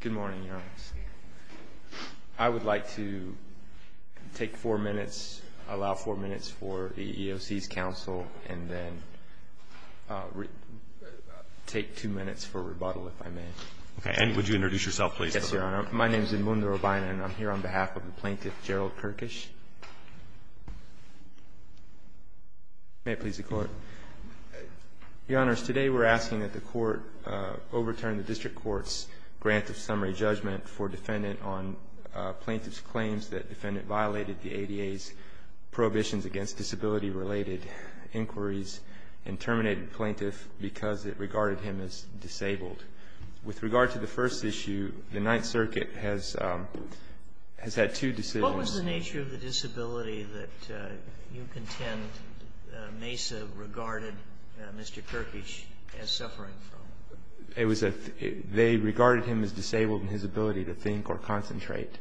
Good morning, Your Honors. I would like to take four minutes, allow four minutes for the EEOC's counsel, and then take two minutes for rebuttal, if I may. Okay, and would you introduce yourself, please? Yes, Your Honor. My name is Edmundo Urbina, and I'm here on behalf of the plaintiff, Gerald Kirkish. May it please the Court. Your Honors, today we're asking that the Court overturn the district court's grant of summary judgment for defendant on plaintiff's claims that defendant violated the ADA's prohibitions against disability-related inquiries and terminated plaintiff because it regarded him as disabled. With regard to the first issue, the Ninth Circuit has had two decisions. What was the nature of the disability that you contend Mesa regarded Mr. Kirkish as suffering from? They regarded him as disabled in his ability to think or concentrate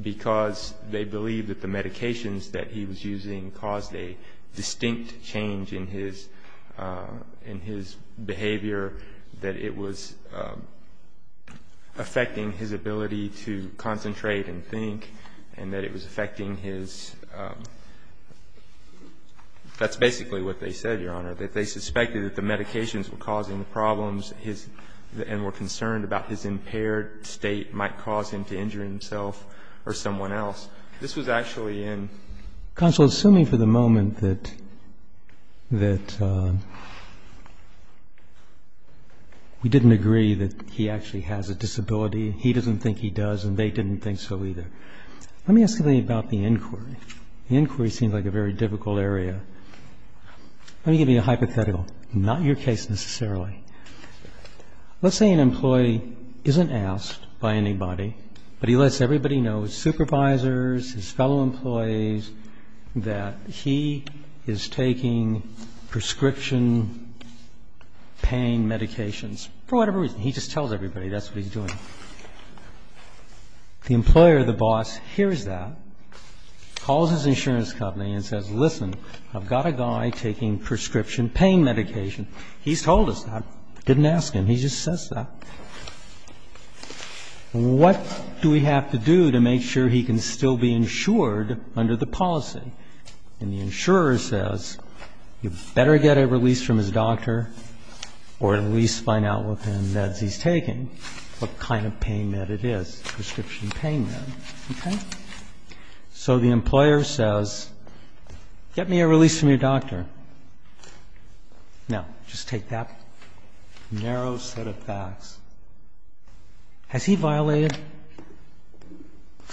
because they believed that the medications that he was using caused a distinct change in his behavior, that it was affecting his ability to concentrate and think, and that it was affecting his That's basically what they said, Your Honor, that they suspected that the medications were causing the problems and were concerned about his impaired state might cause him to injure himself or someone else. This was actually in... Counsel, assuming for the moment that we didn't agree that he actually has a disability, he doesn't think he does, and they didn't think so either, let me ask something about the inquiry. The inquiry seems like a very difficult area. Let me give you a hypothetical, not your case necessarily. Let's say an employee isn't asked by anybody, but he lets everybody know, his supervisors, his fellow employees, that he is taking prescription pain medications for whatever reason. He just tells everybody that's what he's doing. The employer, the boss, hears that, calls his insurance company and says, Listen, I've got a guy taking prescription pain medication. He's told us that. I didn't ask him. He just says that. What do we have to do to make sure he can still be insured under the policy? And the insurer says, You better get a release from his doctor or at least find out what kind of meds he's taking, what kind of pain med it is, prescription pain med. Okay? So the employer says, Get me a release from your doctor. Now, just take that narrow set of facts. Has he violated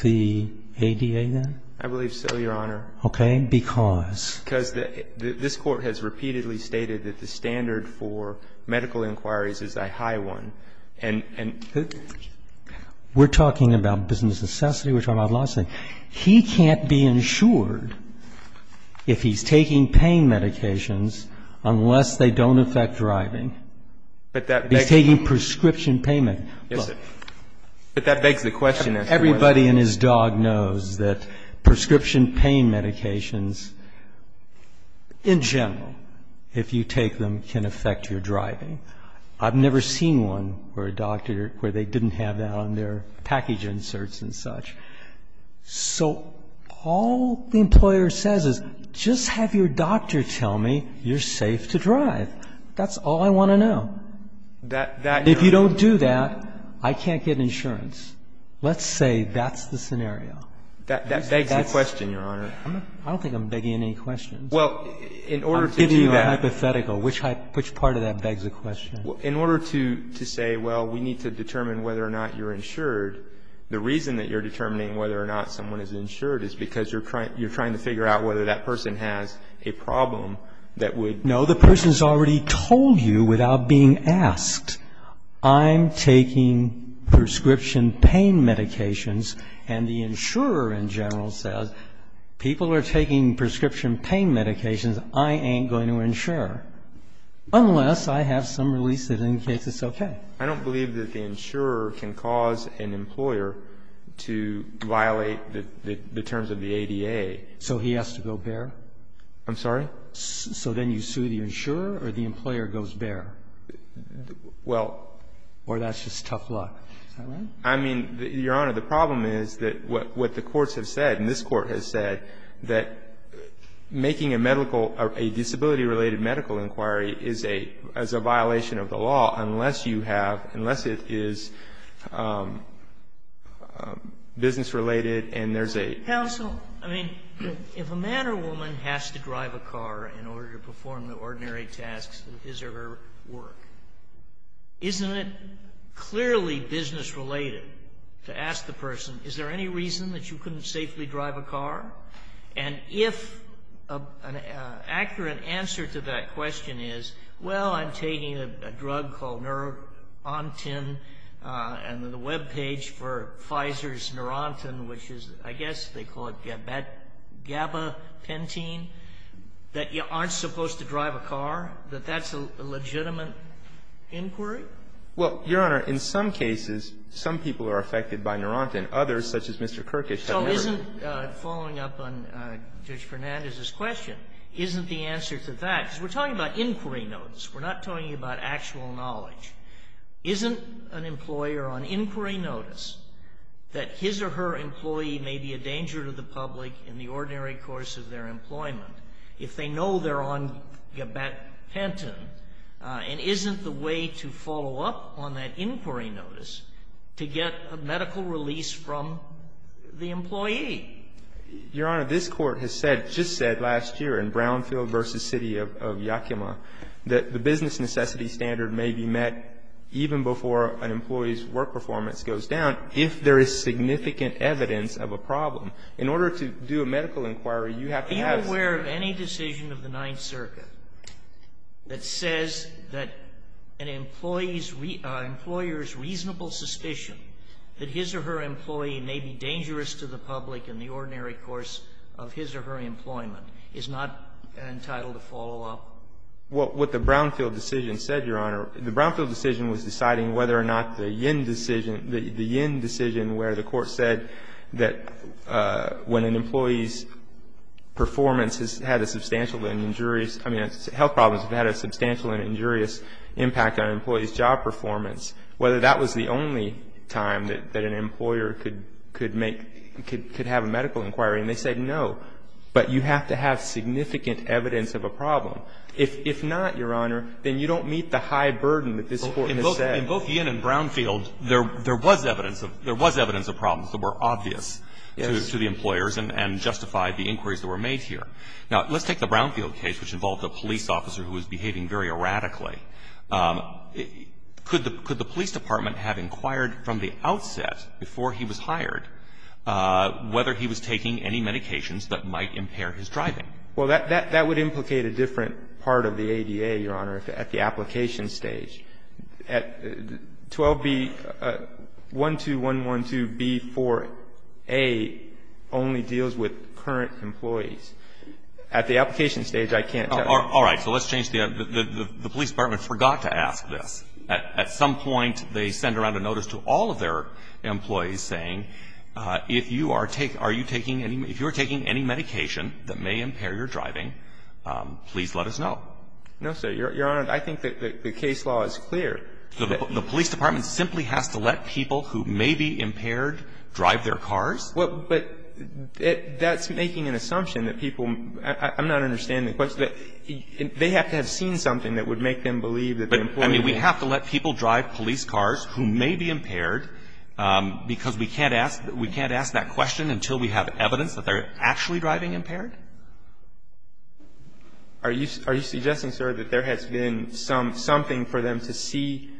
the ADA then? I believe so, Your Honor. Okay. Because? Because this Court has repeatedly stated that the standard for medical inquiries is a high one. We're talking about business necessity. We're talking about licensing. He can't be insured if he's taking pain medications unless they don't affect driving. But that begs the question. He's taking prescription pain medication. But that begs the question. Everybody and his dog knows that prescription pain medications, in general, if you take them, can affect your driving. I've never seen one where they didn't have that on their package inserts and such. So all the employer says is, Just have your doctor tell me you're safe to drive. That's all I want to know. If you don't do that, I can't get insurance. Let's say that's the scenario. That begs the question, Your Honor. I don't think I'm begging any questions. Well, in order to do that. I'm giving you a hypothetical. Which part of that begs the question? In order to say, Well, we need to determine whether or not you're insured, the reason that you're determining whether or not someone is insured is because you're trying to figure out whether that person has a problem that would. No, the person's already told you without being asked. I'm taking prescription pain medications. And the insurer, in general, says, People are taking prescription pain medications. I ain't going to insure unless I have some release that indicates it's okay. I don't believe that the insurer can cause an employer to violate the terms of the ADA. So he has to go bare? I'm sorry? So then you sue the insurer or the employer goes bare? Well. Or that's just tough luck. Is that right? I mean, Your Honor, the problem is that what the courts have said, and this Court has said, that making a medical or a disability-related medical inquiry is a violation of the law unless you have, unless it is business-related and there's a. Counsel, I mean, if a man or woman has to drive a car in order to perform the ordinary tasks of his or her work, isn't it clearly business-related to ask the person, Is there any reason that you couldn't safely drive a car? And if an accurate answer to that question is, Well, I'm taking a drug called Neurontin and the webpage for Pfizer's Neurontin, which is, I guess they call it Gabapentin, that you aren't supposed to drive a car, that that's a legitimate inquiry? Well, Your Honor, in some cases, some people are affected by Neurontin. Others, such as Mr. Kirkus, have never. So isn't, following up on Judge Fernandez's question, isn't the answer to that, because we're talking about inquiry notes. We're not talking about actual knowledge. Isn't an employer on inquiry notice that his or her employee may be a danger to the employment if they know they're on Gabapentin? And isn't the way to follow up on that inquiry notice to get a medical release from the employee? Your Honor, this Court has said, just said last year in Brownfield v. City of Yakima, that the business necessity standard may be met even before an employee's work performance goes down if there is significant evidence of a problem. In order to do a medical inquiry, you have to have the standard. Are you aware of any decision of the Ninth Circuit that says that an employee's employer's reasonable suspicion that his or her employee may be dangerous to the public in the ordinary course of his or her employment is not entitled to follow up? Well, what the Brownfield decision said, Your Honor, the Brownfield decision was deciding whether or not the Yin decision, the Yin decision where the Court said that when an employee's performance has had a substantial and injurious, I mean, health problems have had a substantial and injurious impact on an employee's job performance, whether that was the only time that an employer could make, could have a medical inquiry, and they said no. But you have to have significant evidence of a problem. If not, Your Honor, then you don't meet the high burden that this Court has set. In both Yin and Brownfield, there was evidence of problems that were obvious to the employers and justified the inquiries that were made here. Now, let's take the Brownfield case, which involved a police officer who was behaving very erratically. Could the police department have inquired from the outset before he was hired whether he was taking any medications that might impair his driving? Well, that would implicate a different part of the ADA, Your Honor, at the application stage. 12B12112B4A only deals with current employees. At the application stage, I can't tell you. All right. So let's change the idea. The police department forgot to ask this. At some point, they send around a notice to all of their employees saying, if you are taking any medication that may impair your driving, please let us know. No, sir. Your Honor, I think that the case law is clear. The police department simply has to let people who may be impaired drive their cars? Well, but that's making an assumption that people – I'm not understanding the question. They have to have seen something that would make them believe that the employee was impaired. I mean, we have to let people drive police cars who may be impaired because we can't ask that question until we have evidence that they're actually driving impaired? Are you suggesting, sir, that there has been something for them to see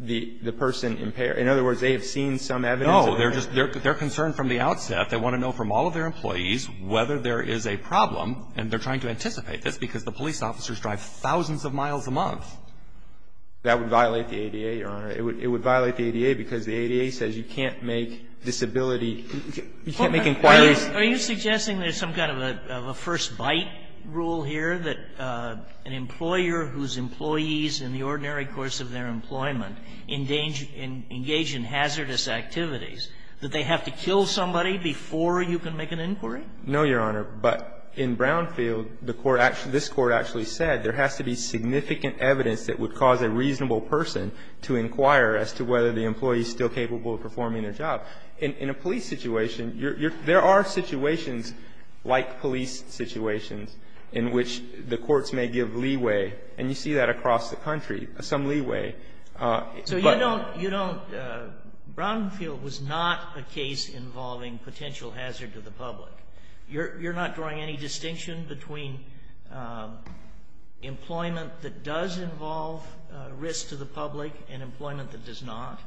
the person impaired? In other words, they have seen some evidence? No. They're concerned from the outset. They want to know from all of their employees whether there is a problem, and they're trying to anticipate this because the police officers drive thousands of miles a month. That would violate the ADA, Your Honor. It would violate the ADA because the ADA says you can't make disability – you can't make inquiries. Are you suggesting there's some kind of a first-bite rule here, that an employer whose employees in the ordinary course of their employment engage in hazardous activities, that they have to kill somebody before you can make an inquiry? No, Your Honor. But in Brownfield, the court actually – this Court actually said there has to be significant evidence that would cause a reasonable person to inquire as to whether the employee is still capable of performing their job. In a police situation, you're – there are situations like police situations in which the courts may give leeway, and you see that across the country, some leeway. So you don't – you don't – Brownfield was not a case involving potential hazard to the public. You're not drawing any distinction between employment that does involve risk to the public and employment that does not?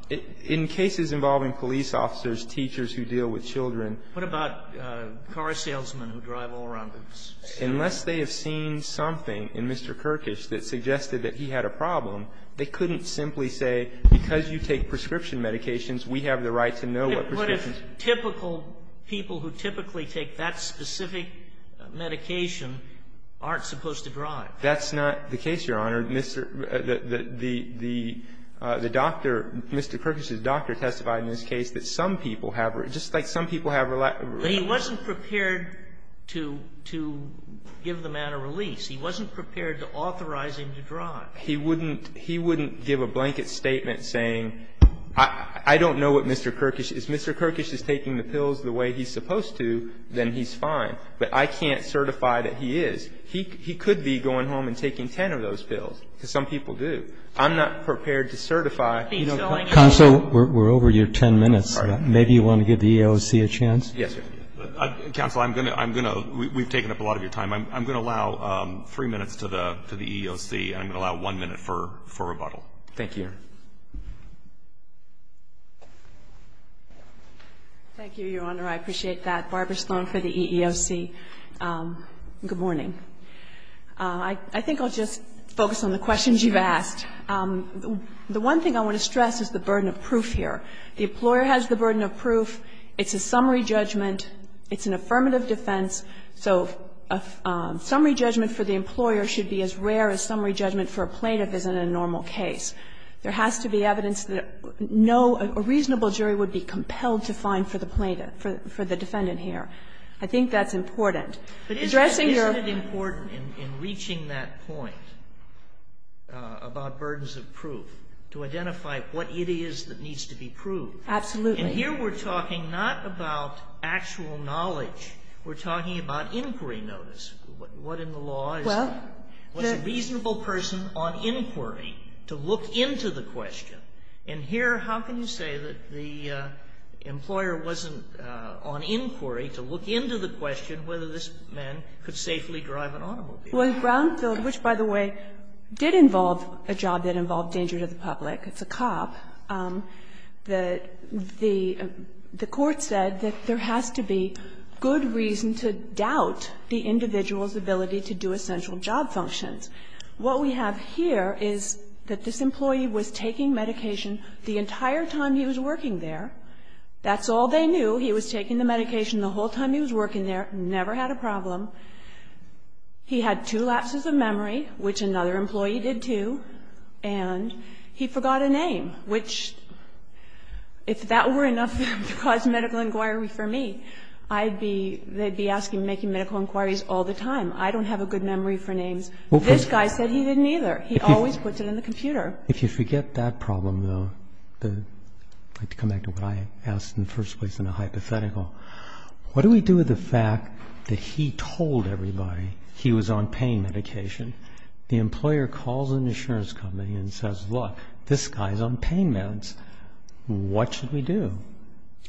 In cases involving police officers, teachers who deal with children. What about car salesmen who drive all around the city? Unless they have seen something in Mr. Kirkish that suggested that he had a problem, they couldn't simply say, because you take prescription medications, we have the right to know what prescriptions. What if typical people who typically take that specific medication aren't supposed to drive? That's not the case, Your Honor. The doctor, Mr. Kirkish's doctor testified in this case that some people have – just like some people have a lack of – But he wasn't prepared to give the man a release. He wasn't prepared to authorize him to drive. He wouldn't give a blanket statement saying, I don't know what Mr. Kirkish is taking the pills the way he's supposed to, then he's fine. But I can't certify that he is. He could be going home and taking 10 of those pills, because some people do. I'm not prepared to certify. Counsel, we're over your 10 minutes. Maybe you want to give the EEOC a chance? Yes, sir. Counsel, I'm going to – I'm going to – we've taken up a lot of your time. I'm going to allow three minutes to the EEOC, and I'm going to allow one minute for rebuttal. Thank you, Your Honor. Thank you, Your Honor. I appreciate that. Barbara Sloan for the EEOC. Good morning. I think I'll just focus on the questions you've asked. The one thing I want to stress is the burden of proof here. The employer has the burden of proof. It's a summary judgment. It's an affirmative defense. So a summary judgment for the employer should be as rare a summary judgment for a plaintiff as in a normal case. There has to be evidence that no reasonable jury would be compelled to find for the plaintiff, for the defendant here. I think that's important. Addressing your – But isn't it important in reaching that point about burdens of proof to identify what it is that needs to be proved? Absolutely. And here we're talking not about actual knowledge. We're talking about inquiry notice. What in the law is – Well, the – To look into the question. And here, how can you say that the employer wasn't on inquiry to look into the question whether this man could safely drive an automobile? Well, in Brownfield, which, by the way, did involve a job that involved danger to the public, it's a cop, the court said that there has to be good reason to doubt the individual's ability to do essential job functions. What we have here is that this employee was taking medication the entire time he was working there. That's all they knew. He was taking the medication the whole time he was working there, never had a problem. He had two lapses of memory, which another employee did, too, and he forgot a name, which, if that were enough to cause medical inquiry for me, I'd be – they'd be asking, making medical inquiries all the time. I don't have a good memory for names. This guy said he didn't either. He always puts it in the computer. If you forget that problem, though, I'd like to come back to what I asked in the first place in a hypothetical. What do we do with the fact that he told everybody he was on pain medication? The employer calls an insurance company and says, look, this guy's on pain meds. What should we do?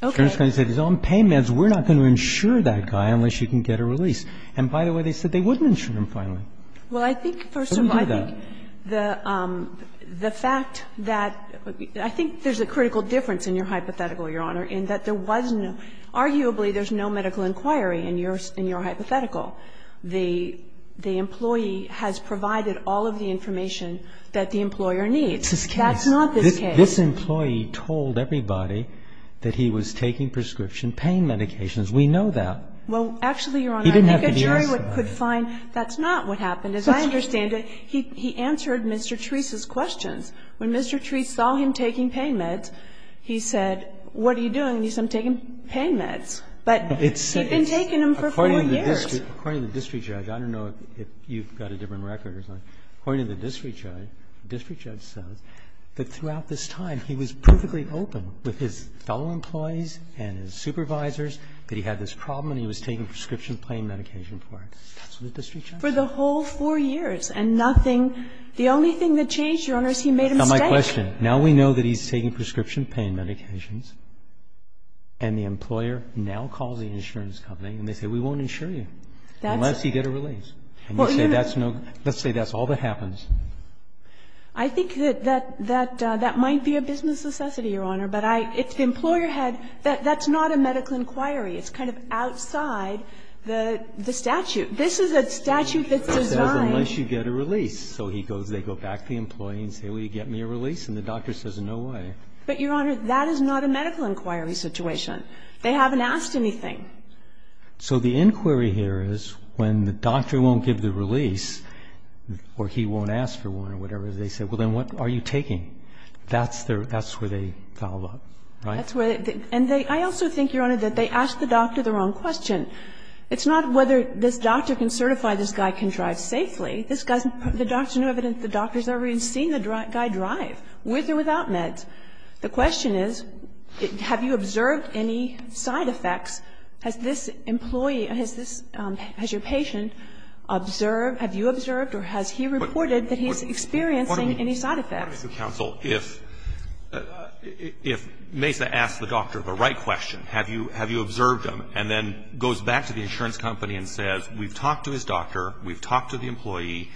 Okay. Insurance company says he's on pain meds. We're not going to insure that guy unless you can get a release. And, by the way, they said they wouldn't insure him finally. Well, I think, first of all, I think the fact that – I think there's a critical difference in your hypothetical, Your Honor, in that there was no – arguably, there's no medical inquiry in your hypothetical. The employee has provided all of the information that the employer needs. That's not this case. This employee told everybody that he was taking prescription pain medications. We know that. Well, actually, Your Honor, I think a jury could find that's not what happened. As I understand it, he answered Mr. Treese's questions. When Mr. Treese saw him taking pain meds, he said, what are you doing? And he said, I'm taking pain meds. But he'd been taking them for four years. According to the district judge, I don't know if you've got a different record or something, according to the district judge, the district judge says that throughout this time he was perfectly open with his fellow employees and his supervisors that he had this problem and he was taking prescription pain medication for it. That's what the district judge said. For the whole four years and nothing – the only thing that changed, Your Honor, is he made a mistake. Now, my question, now we know that he's taking prescription pain medications and the employer now calls the insurance company and they say, we won't insure you unless you get a release. And you say that's no – let's say that's all that happens. I think that that might be a business necessity, Your Honor. But I – if the employer had – that's not a medical inquiry. It's kind of outside the statute. This is a statute that's designed. It says unless you get a release. So he goes – they go back to the employee and say, will you get me a release? And the doctor says, no way. But, Your Honor, that is not a medical inquiry situation. They haven't asked anything. So the inquiry here is when the doctor won't give the release or he won't ask for one or whatever, they say, well, then what are you taking? That's their – that's where they follow up, right? That's where they – and they – I also think, Your Honor, that they ask the doctor the wrong question. It's not whether this doctor can certify this guy can drive safely. This guy's – the doctor's no evidence the doctor's ever even seen the guy drive, with or without meds. The question is, have you observed any side effects? Has this employee – has this – has your patient observed – have you observed or has he reported that he's experiencing any side effects? What I'm asking counsel, if Mesa asks the doctor the right question, have you – have And if he goes back to the insurance company and says, we've talked to his doctor, we've talked to the employee,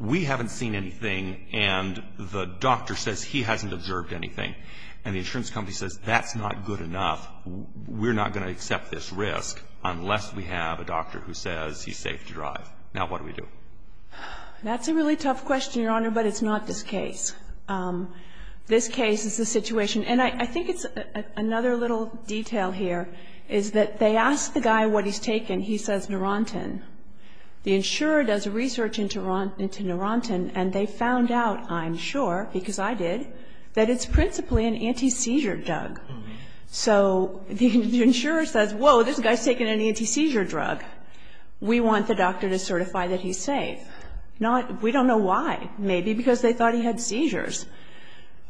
we haven't seen anything, and the doctor says he hasn't observed anything, and the insurance company says that's not good enough, we're not going to accept this risk unless we have a doctor who says he's safe to drive. Now, what do we do? That's a really tough question, Your Honor, but it's not this case. This case is the situation. And I think it's – another little detail here is that they ask the guy what he's taken, he says Neurontin. The insurer does research into Neurontin, and they found out, I'm sure, because I did, that it's principally an anti-seizure drug. So the insurer says, whoa, this guy's taken an anti-seizure drug. We want the doctor to certify that he's safe. Not – we don't know why. Maybe because they thought he had seizures.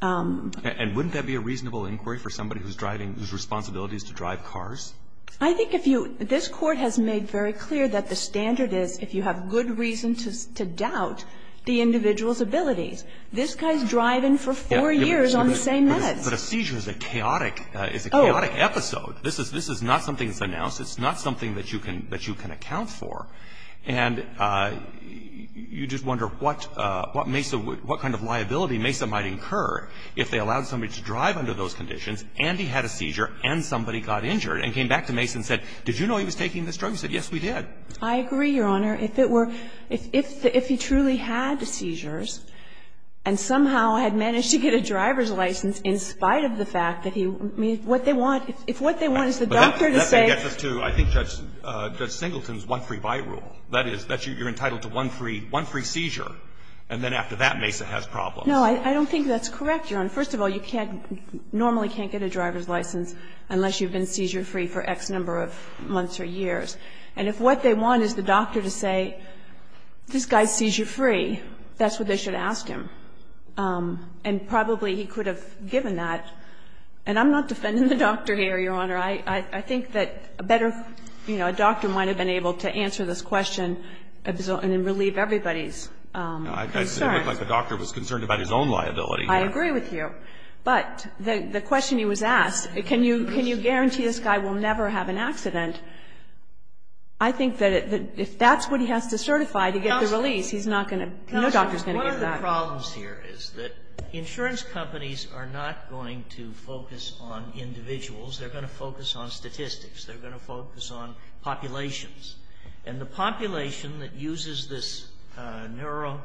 And wouldn't that be a reasonable inquiry for somebody who's driving – whose responsibility is to drive cars? I think if you – this Court has made very clear that the standard is if you have good reason to doubt the individual's abilities. This guy's driving for four years on the same meds. But a seizure is a chaotic – is a chaotic episode. This is – this is not something that's announced. It's not something that you can – that you can account for. And you just wonder what Mesa – what kind of liability Mesa might incur if they allowed somebody to drive under those conditions, and he had a seizure, and somebody got injured, and came back to Mesa and said, did you know he was taking this drug? He said, yes, we did. I agree, Your Honor. If it were – if he truly had seizures and somehow had managed to get a driver's license in spite of the fact that he – I mean, what they want – if what they want is the doctor to say – It gets us to, I think, Judge Singleton's one-free-buy rule. That is, that you're entitled to one free – one free seizure, and then after that, Mesa has problems. No, I don't think that's correct, Your Honor. First of all, you can't – normally can't get a driver's license unless you've been seizure-free for X number of months or years. And if what they want is the doctor to say, this guy's seizure-free, that's what they should ask him. And probably he could have given that. And I'm not defending the doctor here, Your Honor. I think that a better – you know, a doctor might have been able to answer this question and relieve everybody's concern. I said it looked like the doctor was concerned about his own liability. I agree with you. But the question he was asked, can you guarantee this guy will never have an accident, I think that if that's what he has to certify to get the release, he's not going to – no doctor's going to give that. Counsel, one of the problems here is that insurance companies are not going to focus on individuals. They're going to focus on statistics. They're going to focus on populations. And the population that uses this neurontin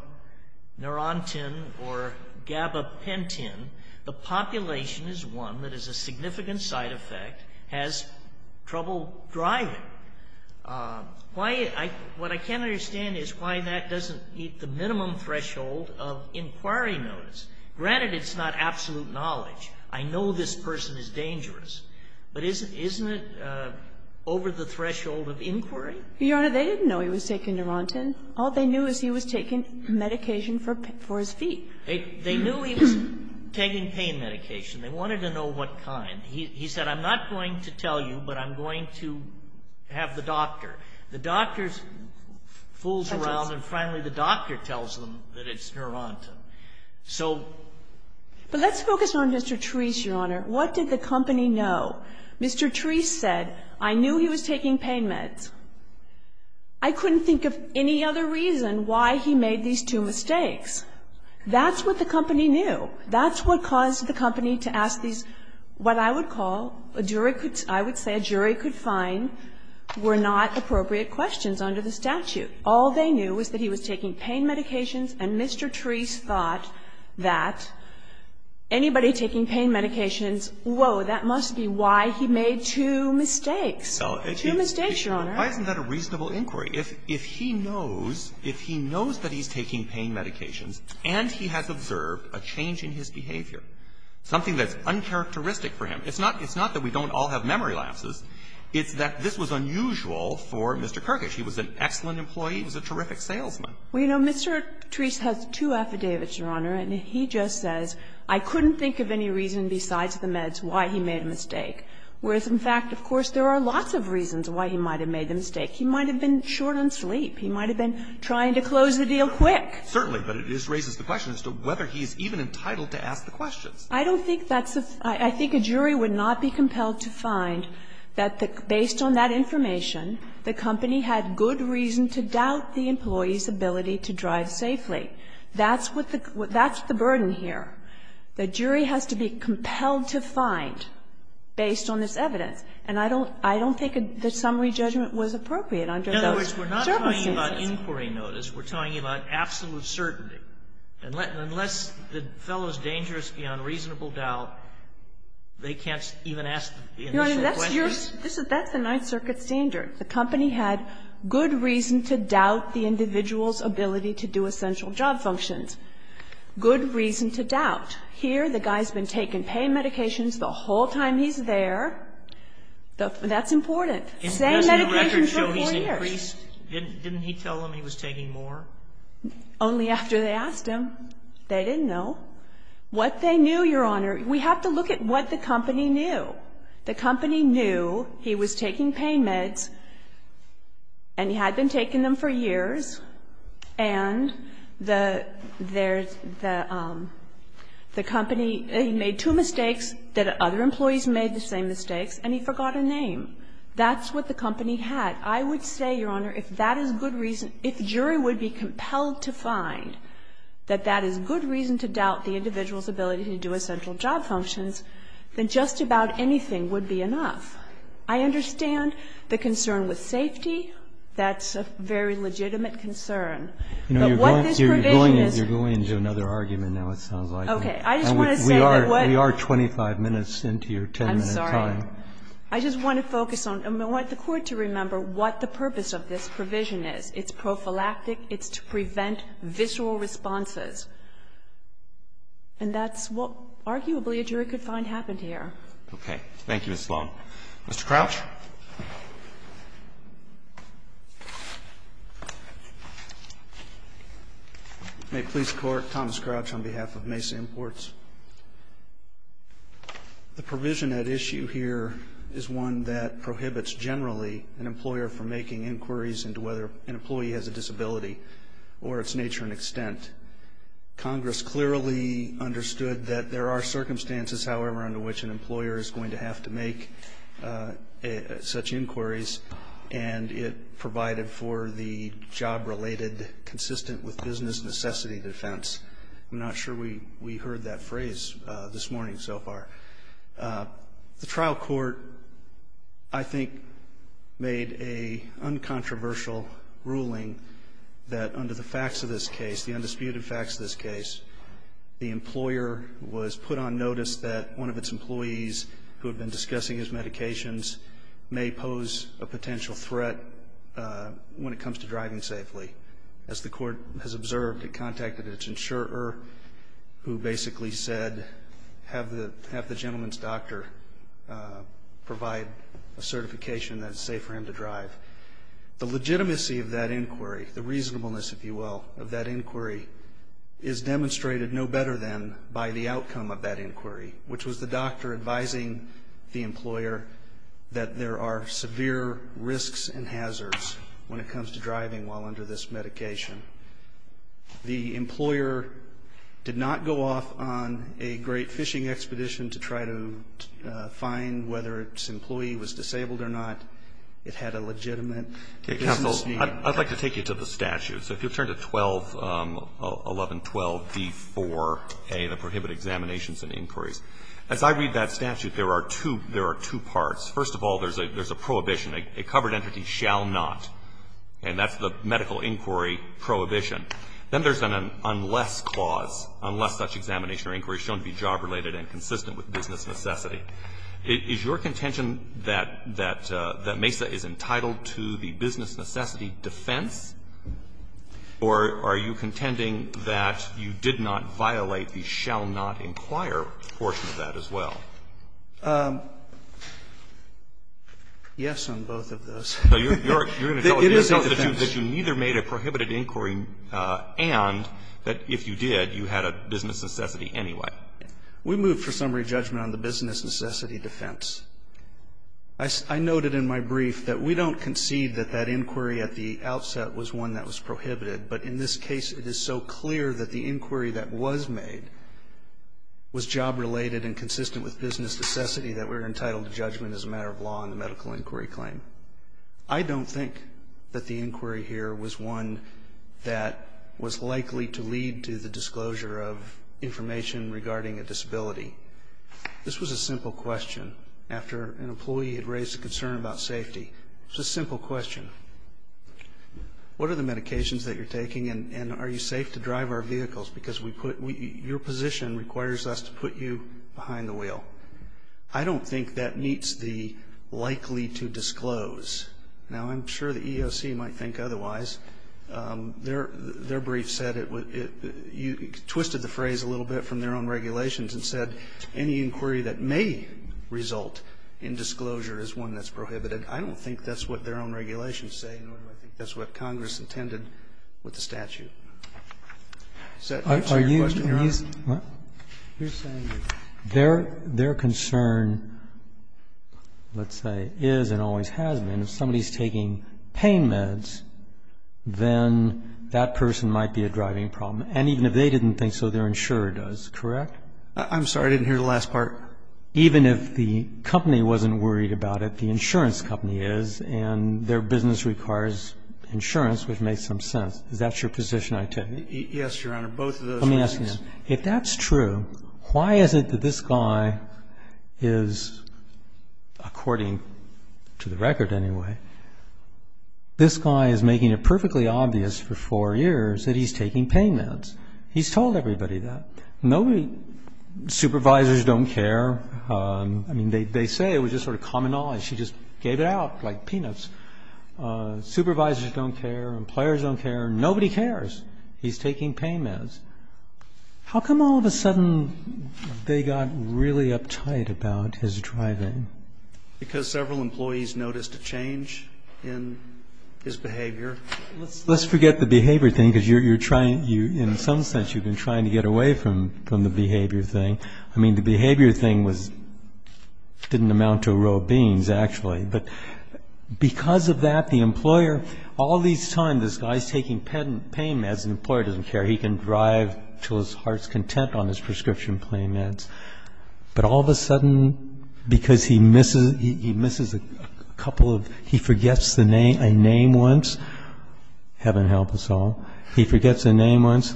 or gabapentin, the population is one that is a significant side effect, has trouble driving. Why – what I can't understand is why that doesn't meet the minimum threshold of inquiry notice. Granted, it's not absolute knowledge. I know this person is dangerous. But isn't it over the threshold of inquiry? Your Honor, they didn't know he was taking neurontin. All they knew is he was taking medication for his feet. They knew he was taking pain medication. They wanted to know what kind. He said, I'm not going to tell you, but I'm going to have the doctor. The doctor fools around and finally the doctor tells them that it's neurontin. So – But let's focus on Mr. Treece, Your Honor. What did the company know? Mr. Treece said, I knew he was taking pain meds. I couldn't think of any other reason why he made these two mistakes. That's what the company knew. That's what caused the company to ask these, what I would call, a jury could – I would say a jury could find were not appropriate questions under the statute. All they knew was that he was taking pain medications, and Mr. Treece thought that anybody taking pain medications, whoa, that must be why he made two mistakes. Two mistakes, Your Honor. Why isn't that a reasonable inquiry? If he knows, if he knows that he's taking pain medications and he has observed a change in his behavior, something that's uncharacteristic for him. It's not that we don't all have memory lapses. It's that this was unusual for Mr. Kerkish. He was an excellent employee. He was a terrific salesman. Well, you know, Mr. Treece has two affidavits, Your Honor. And he just says, I couldn't think of any reason besides the meds why he made a mistake. Whereas, in fact, of course there are lots of reasons why he might have made the mistake. He might have been short on sleep. He might have been trying to close the deal quick. Certainly. But it raises the question as to whether he's even entitled to ask the questions. I don't think that's a – I think a jury would not be compelled to find that based on that information, the company had good reason to doubt the employee's ability to drive safely. That's what the – that's the burden here. The jury has to be compelled to find based on this evidence. And I don't think the summary judgment was appropriate under those circumstances. In other words, we're not talking about inquiry notice. We're talking about absolute certainty. And unless the fellow is dangerous beyond reasonable doubt, they can't even ask the initial questions? Your Honor, that's your – that's the Ninth Circuit standard. The company had good reason to doubt the individual's ability to do essential job functions. Good reason to doubt. Here, the guy's been taking pain medications the whole time he's there. That's important. Same medication for four years. And doesn't the record show he's increased? Didn't he tell them he was taking more? Only after they asked him. They didn't know. What they knew, Your Honor, we have to look at what the company knew. The company knew he was taking pain meds, and he had been taking them for years, and the company made two mistakes, that other employees made the same mistakes, and he forgot a name. That's what the company had. I would say, Your Honor, if that is good reason – if jury would be compelled to find that that is good reason to doubt the individual's ability to do essential job functions, then just about anything would be enough. I understand the concern with safety. That's a very legitimate concern. But what this provision is – You're going into another argument now, it sounds like. Okay. I just want to say that what – We are 25 minutes into your 10-minute time. I'm sorry. I just want to focus on – I want the Court to remember what the purpose of this provision is. It's prophylactic. It's to prevent visceral responses. And that's what, arguably, a jury could find happened here. Okay. Thank you, Ms. Sloan. Mr. Crouch. May it please the Court, Thomas Crouch on behalf of Mesa Imports. The provision at issue here is one that prohibits generally an employer from making inquiries into whether an employee has a disability or its nature and extent. Congress clearly understood that there are circumstances, however, under which an employer is going to have to make such inquiries, and it provided for the job-related consistent with business necessity defense. I'm not sure we heard that phrase this morning so far. The trial court, I think, made a uncontroversial ruling that under the facts of this case, the undisputed facts of this case, the employer was put on notice that one of its employees who had been discussing his medications may pose a potential threat when it comes to driving safely. As the Court has observed, it contacted its insurer, who basically said, have the gentleman's doctor provide a certification that it's safe for him to drive. The legitimacy of that inquiry, the reasonableness, if you will, of that inquiry is demonstrated no better than by the outcome of that inquiry, which was the doctor advising the employer that there are severe risks and hazards when it comes to driving while under this medication. The employer did not go off on a great fishing expedition to try to find whether its employee was disabled or not. It had a legitimate business need. Roberts. I'd like to take you to the statute. So if you'll turn to 121112d4a, the prohibited examinations and inquiries. As I read that statute, there are two parts. First of all, there's a prohibition. A covered entity shall not. And that's the medical inquiry prohibition. Then there's an unless clause, unless such examination or inquiry is shown to be job-related and consistent with business necessity. Is your contention that MESA is entitled to the business necessity defense? Or are you contending that you did not violate the shall not inquire portion of that as well? Yes on both of those. No, you're going to tell us that you neither made a prohibited inquiry and that if you did, you had a business necessity anyway. We move for summary judgment on the business necessity defense. I noted in my brief that we don't concede that that inquiry at the outset was one that was prohibited. But in this case, it is so clear that the inquiry that was made was job-related and consistent with business necessity that we're entitled to judgment as a matter of law in the medical inquiry claim. I don't think that the inquiry here was one that was likely to lead to the disclosure of information regarding a disability. This was a simple question after an employee had raised a concern about safety. It's a simple question. What are the medications that you're taking and are you safe to drive our vehicles? Because your position requires us to put you behind the wheel. I don't think that meets the likely to disclose. Now, I'm sure the EEOC might think otherwise. Their brief said it would be you twisted the phrase a little bit from their own regulations and said any inquiry that may result in disclosure is one that's prohibited. I don't think that's what their own regulations say, nor do I think that's what Congress intended with the statute. So to answer your question, Your Honor. Are you saying that their concern, let's say, is and always has been if somebody is taking pain meds, then that person might be a driving problem? And even if they didn't think so, their insurer does, correct? I'm sorry. I didn't hear the last part. Even if the company wasn't worried about it, the insurance company is, and their business requires insurance, which makes some sense. Is that your position, I take it? Yes, Your Honor, both of those. Let me ask you this. If that's true, why is it that this guy is, according to the record anyway, this guy is making it perfectly obvious for four years that he's taking pain meds? He's told everybody that. Supervisors don't care. I mean, they say it was just sort of common knowledge. She just gave it out like peanuts. Supervisors don't care and players don't care. Nobody cares. He's taking pain meds. How come all of a sudden they got really uptight about his driving? Because several employees noticed a change in his behavior. Let's forget the behavior thing because you're trying, in some sense, you've been trying to get away from the behavior thing. I mean, the behavior thing didn't amount to a row of beans, actually. But because of that, the employer, all this time this guy's taking pain meds, the employer doesn't care. He can drive to his heart's content on his prescription pain meds. But all of a sudden, because he misses a couple of, he forgets a name once, heaven help us all, he forgets a name once,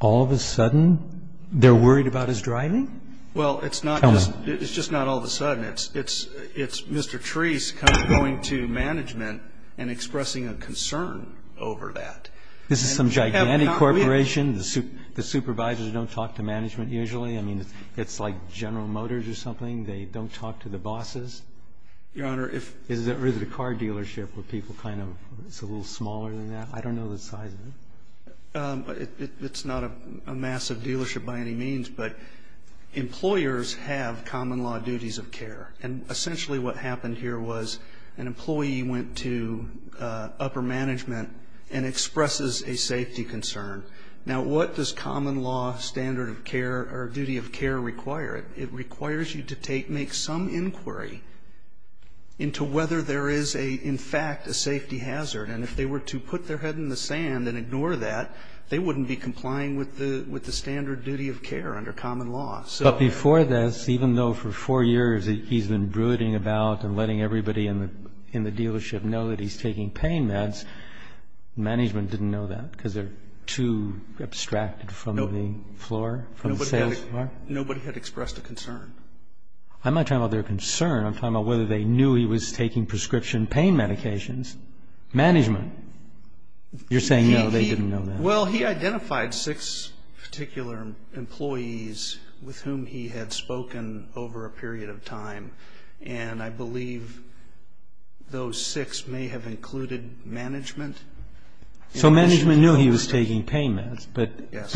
all of a sudden they're worried about his driving? Well, it's not just, it's just not all of a sudden. It's Mr. Treece kind of going to management and expressing a concern over that. This is some gigantic corporation. The supervisors don't talk to management usually. I mean, it's like General Motors or something. They don't talk to the bosses. Your Honor, if. Is it a car dealership where people kind of, it's a little smaller than that. I don't know the size of it. It's not a massive dealership by any means, but employers have common law duties of care. And essentially what happened here was an employee went to upper management and expresses a safety concern. Now, what does common law standard of care or duty of care require? It requires you to make some inquiry into whether there is, in fact, a safety hazard. And if they were to put their head in the sand and ignore that, they wouldn't be complying with the standard duty of care under common law. But before this, even though for four years he's been brooding about and letting everybody in the dealership know that he's taking pain meds, management didn't know that because they're too abstracted from the floor, from the sales floor? Nobody had expressed a concern. I'm not talking about their concern. I'm talking about whether they knew he was taking prescription pain medications. Management? You're saying no, they didn't know that. Well, he identified six particular employees with whom he had spoken over a period of time, and I believe those six may have included management. So management knew he was taking pain meds. Yes.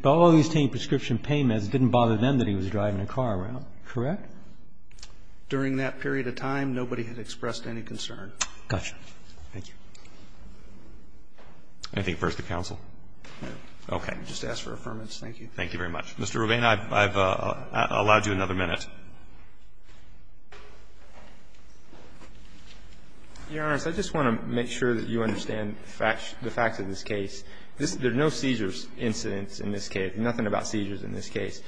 But all he was taking prescription pain meds didn't bother them that he was driving a car around, correct? During that period of time, nobody had expressed any concern. Got you. Thank you. Anything further to counsel? No. Okay. I'll just ask for affirmation. Thank you. Thank you very much. Mr. Rubin, I've allowed you another minute. Your Honor, I just want to make sure that you understand the facts of this case. There are no seizures incidents in this case, nothing about seizures in this case.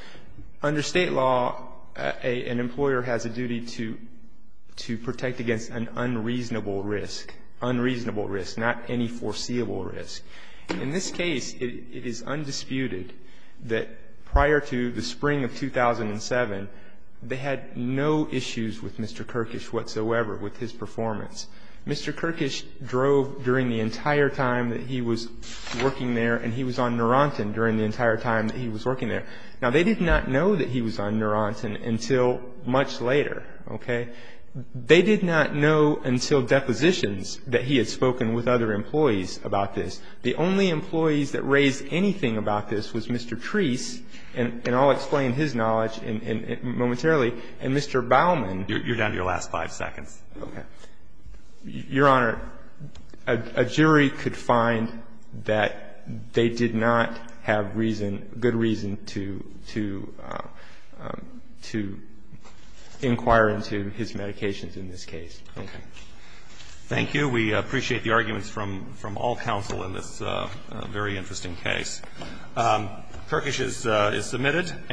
Under state law, an employer has a duty to protect against an unreasonable risk, unreasonable risk, not any foreseeable risk. In this case, it is undisputed that prior to the spring of 2007, they had no issues with Mr. Kirkish whatsoever with his performance. Mr. Kirkish drove during the entire time that he was working there, and he was on Neurontin during the entire time that he was working there. Now, they did not know that he was on Neurontin until much later, okay? They did not know until depositions that he had spoken with other employees about this. The only employees that raised anything about this was Mr. Treese, and I'll explain his knowledge momentarily, and Mr. Bauman. You're down to your last five seconds. Okay. Your Honor, a jury could find that they did not have reason, good reason, to inquire into his medications in this case. Okay. Thank you. We appreciate the arguments from all counsel in this very interesting case. Kirkish is submitted.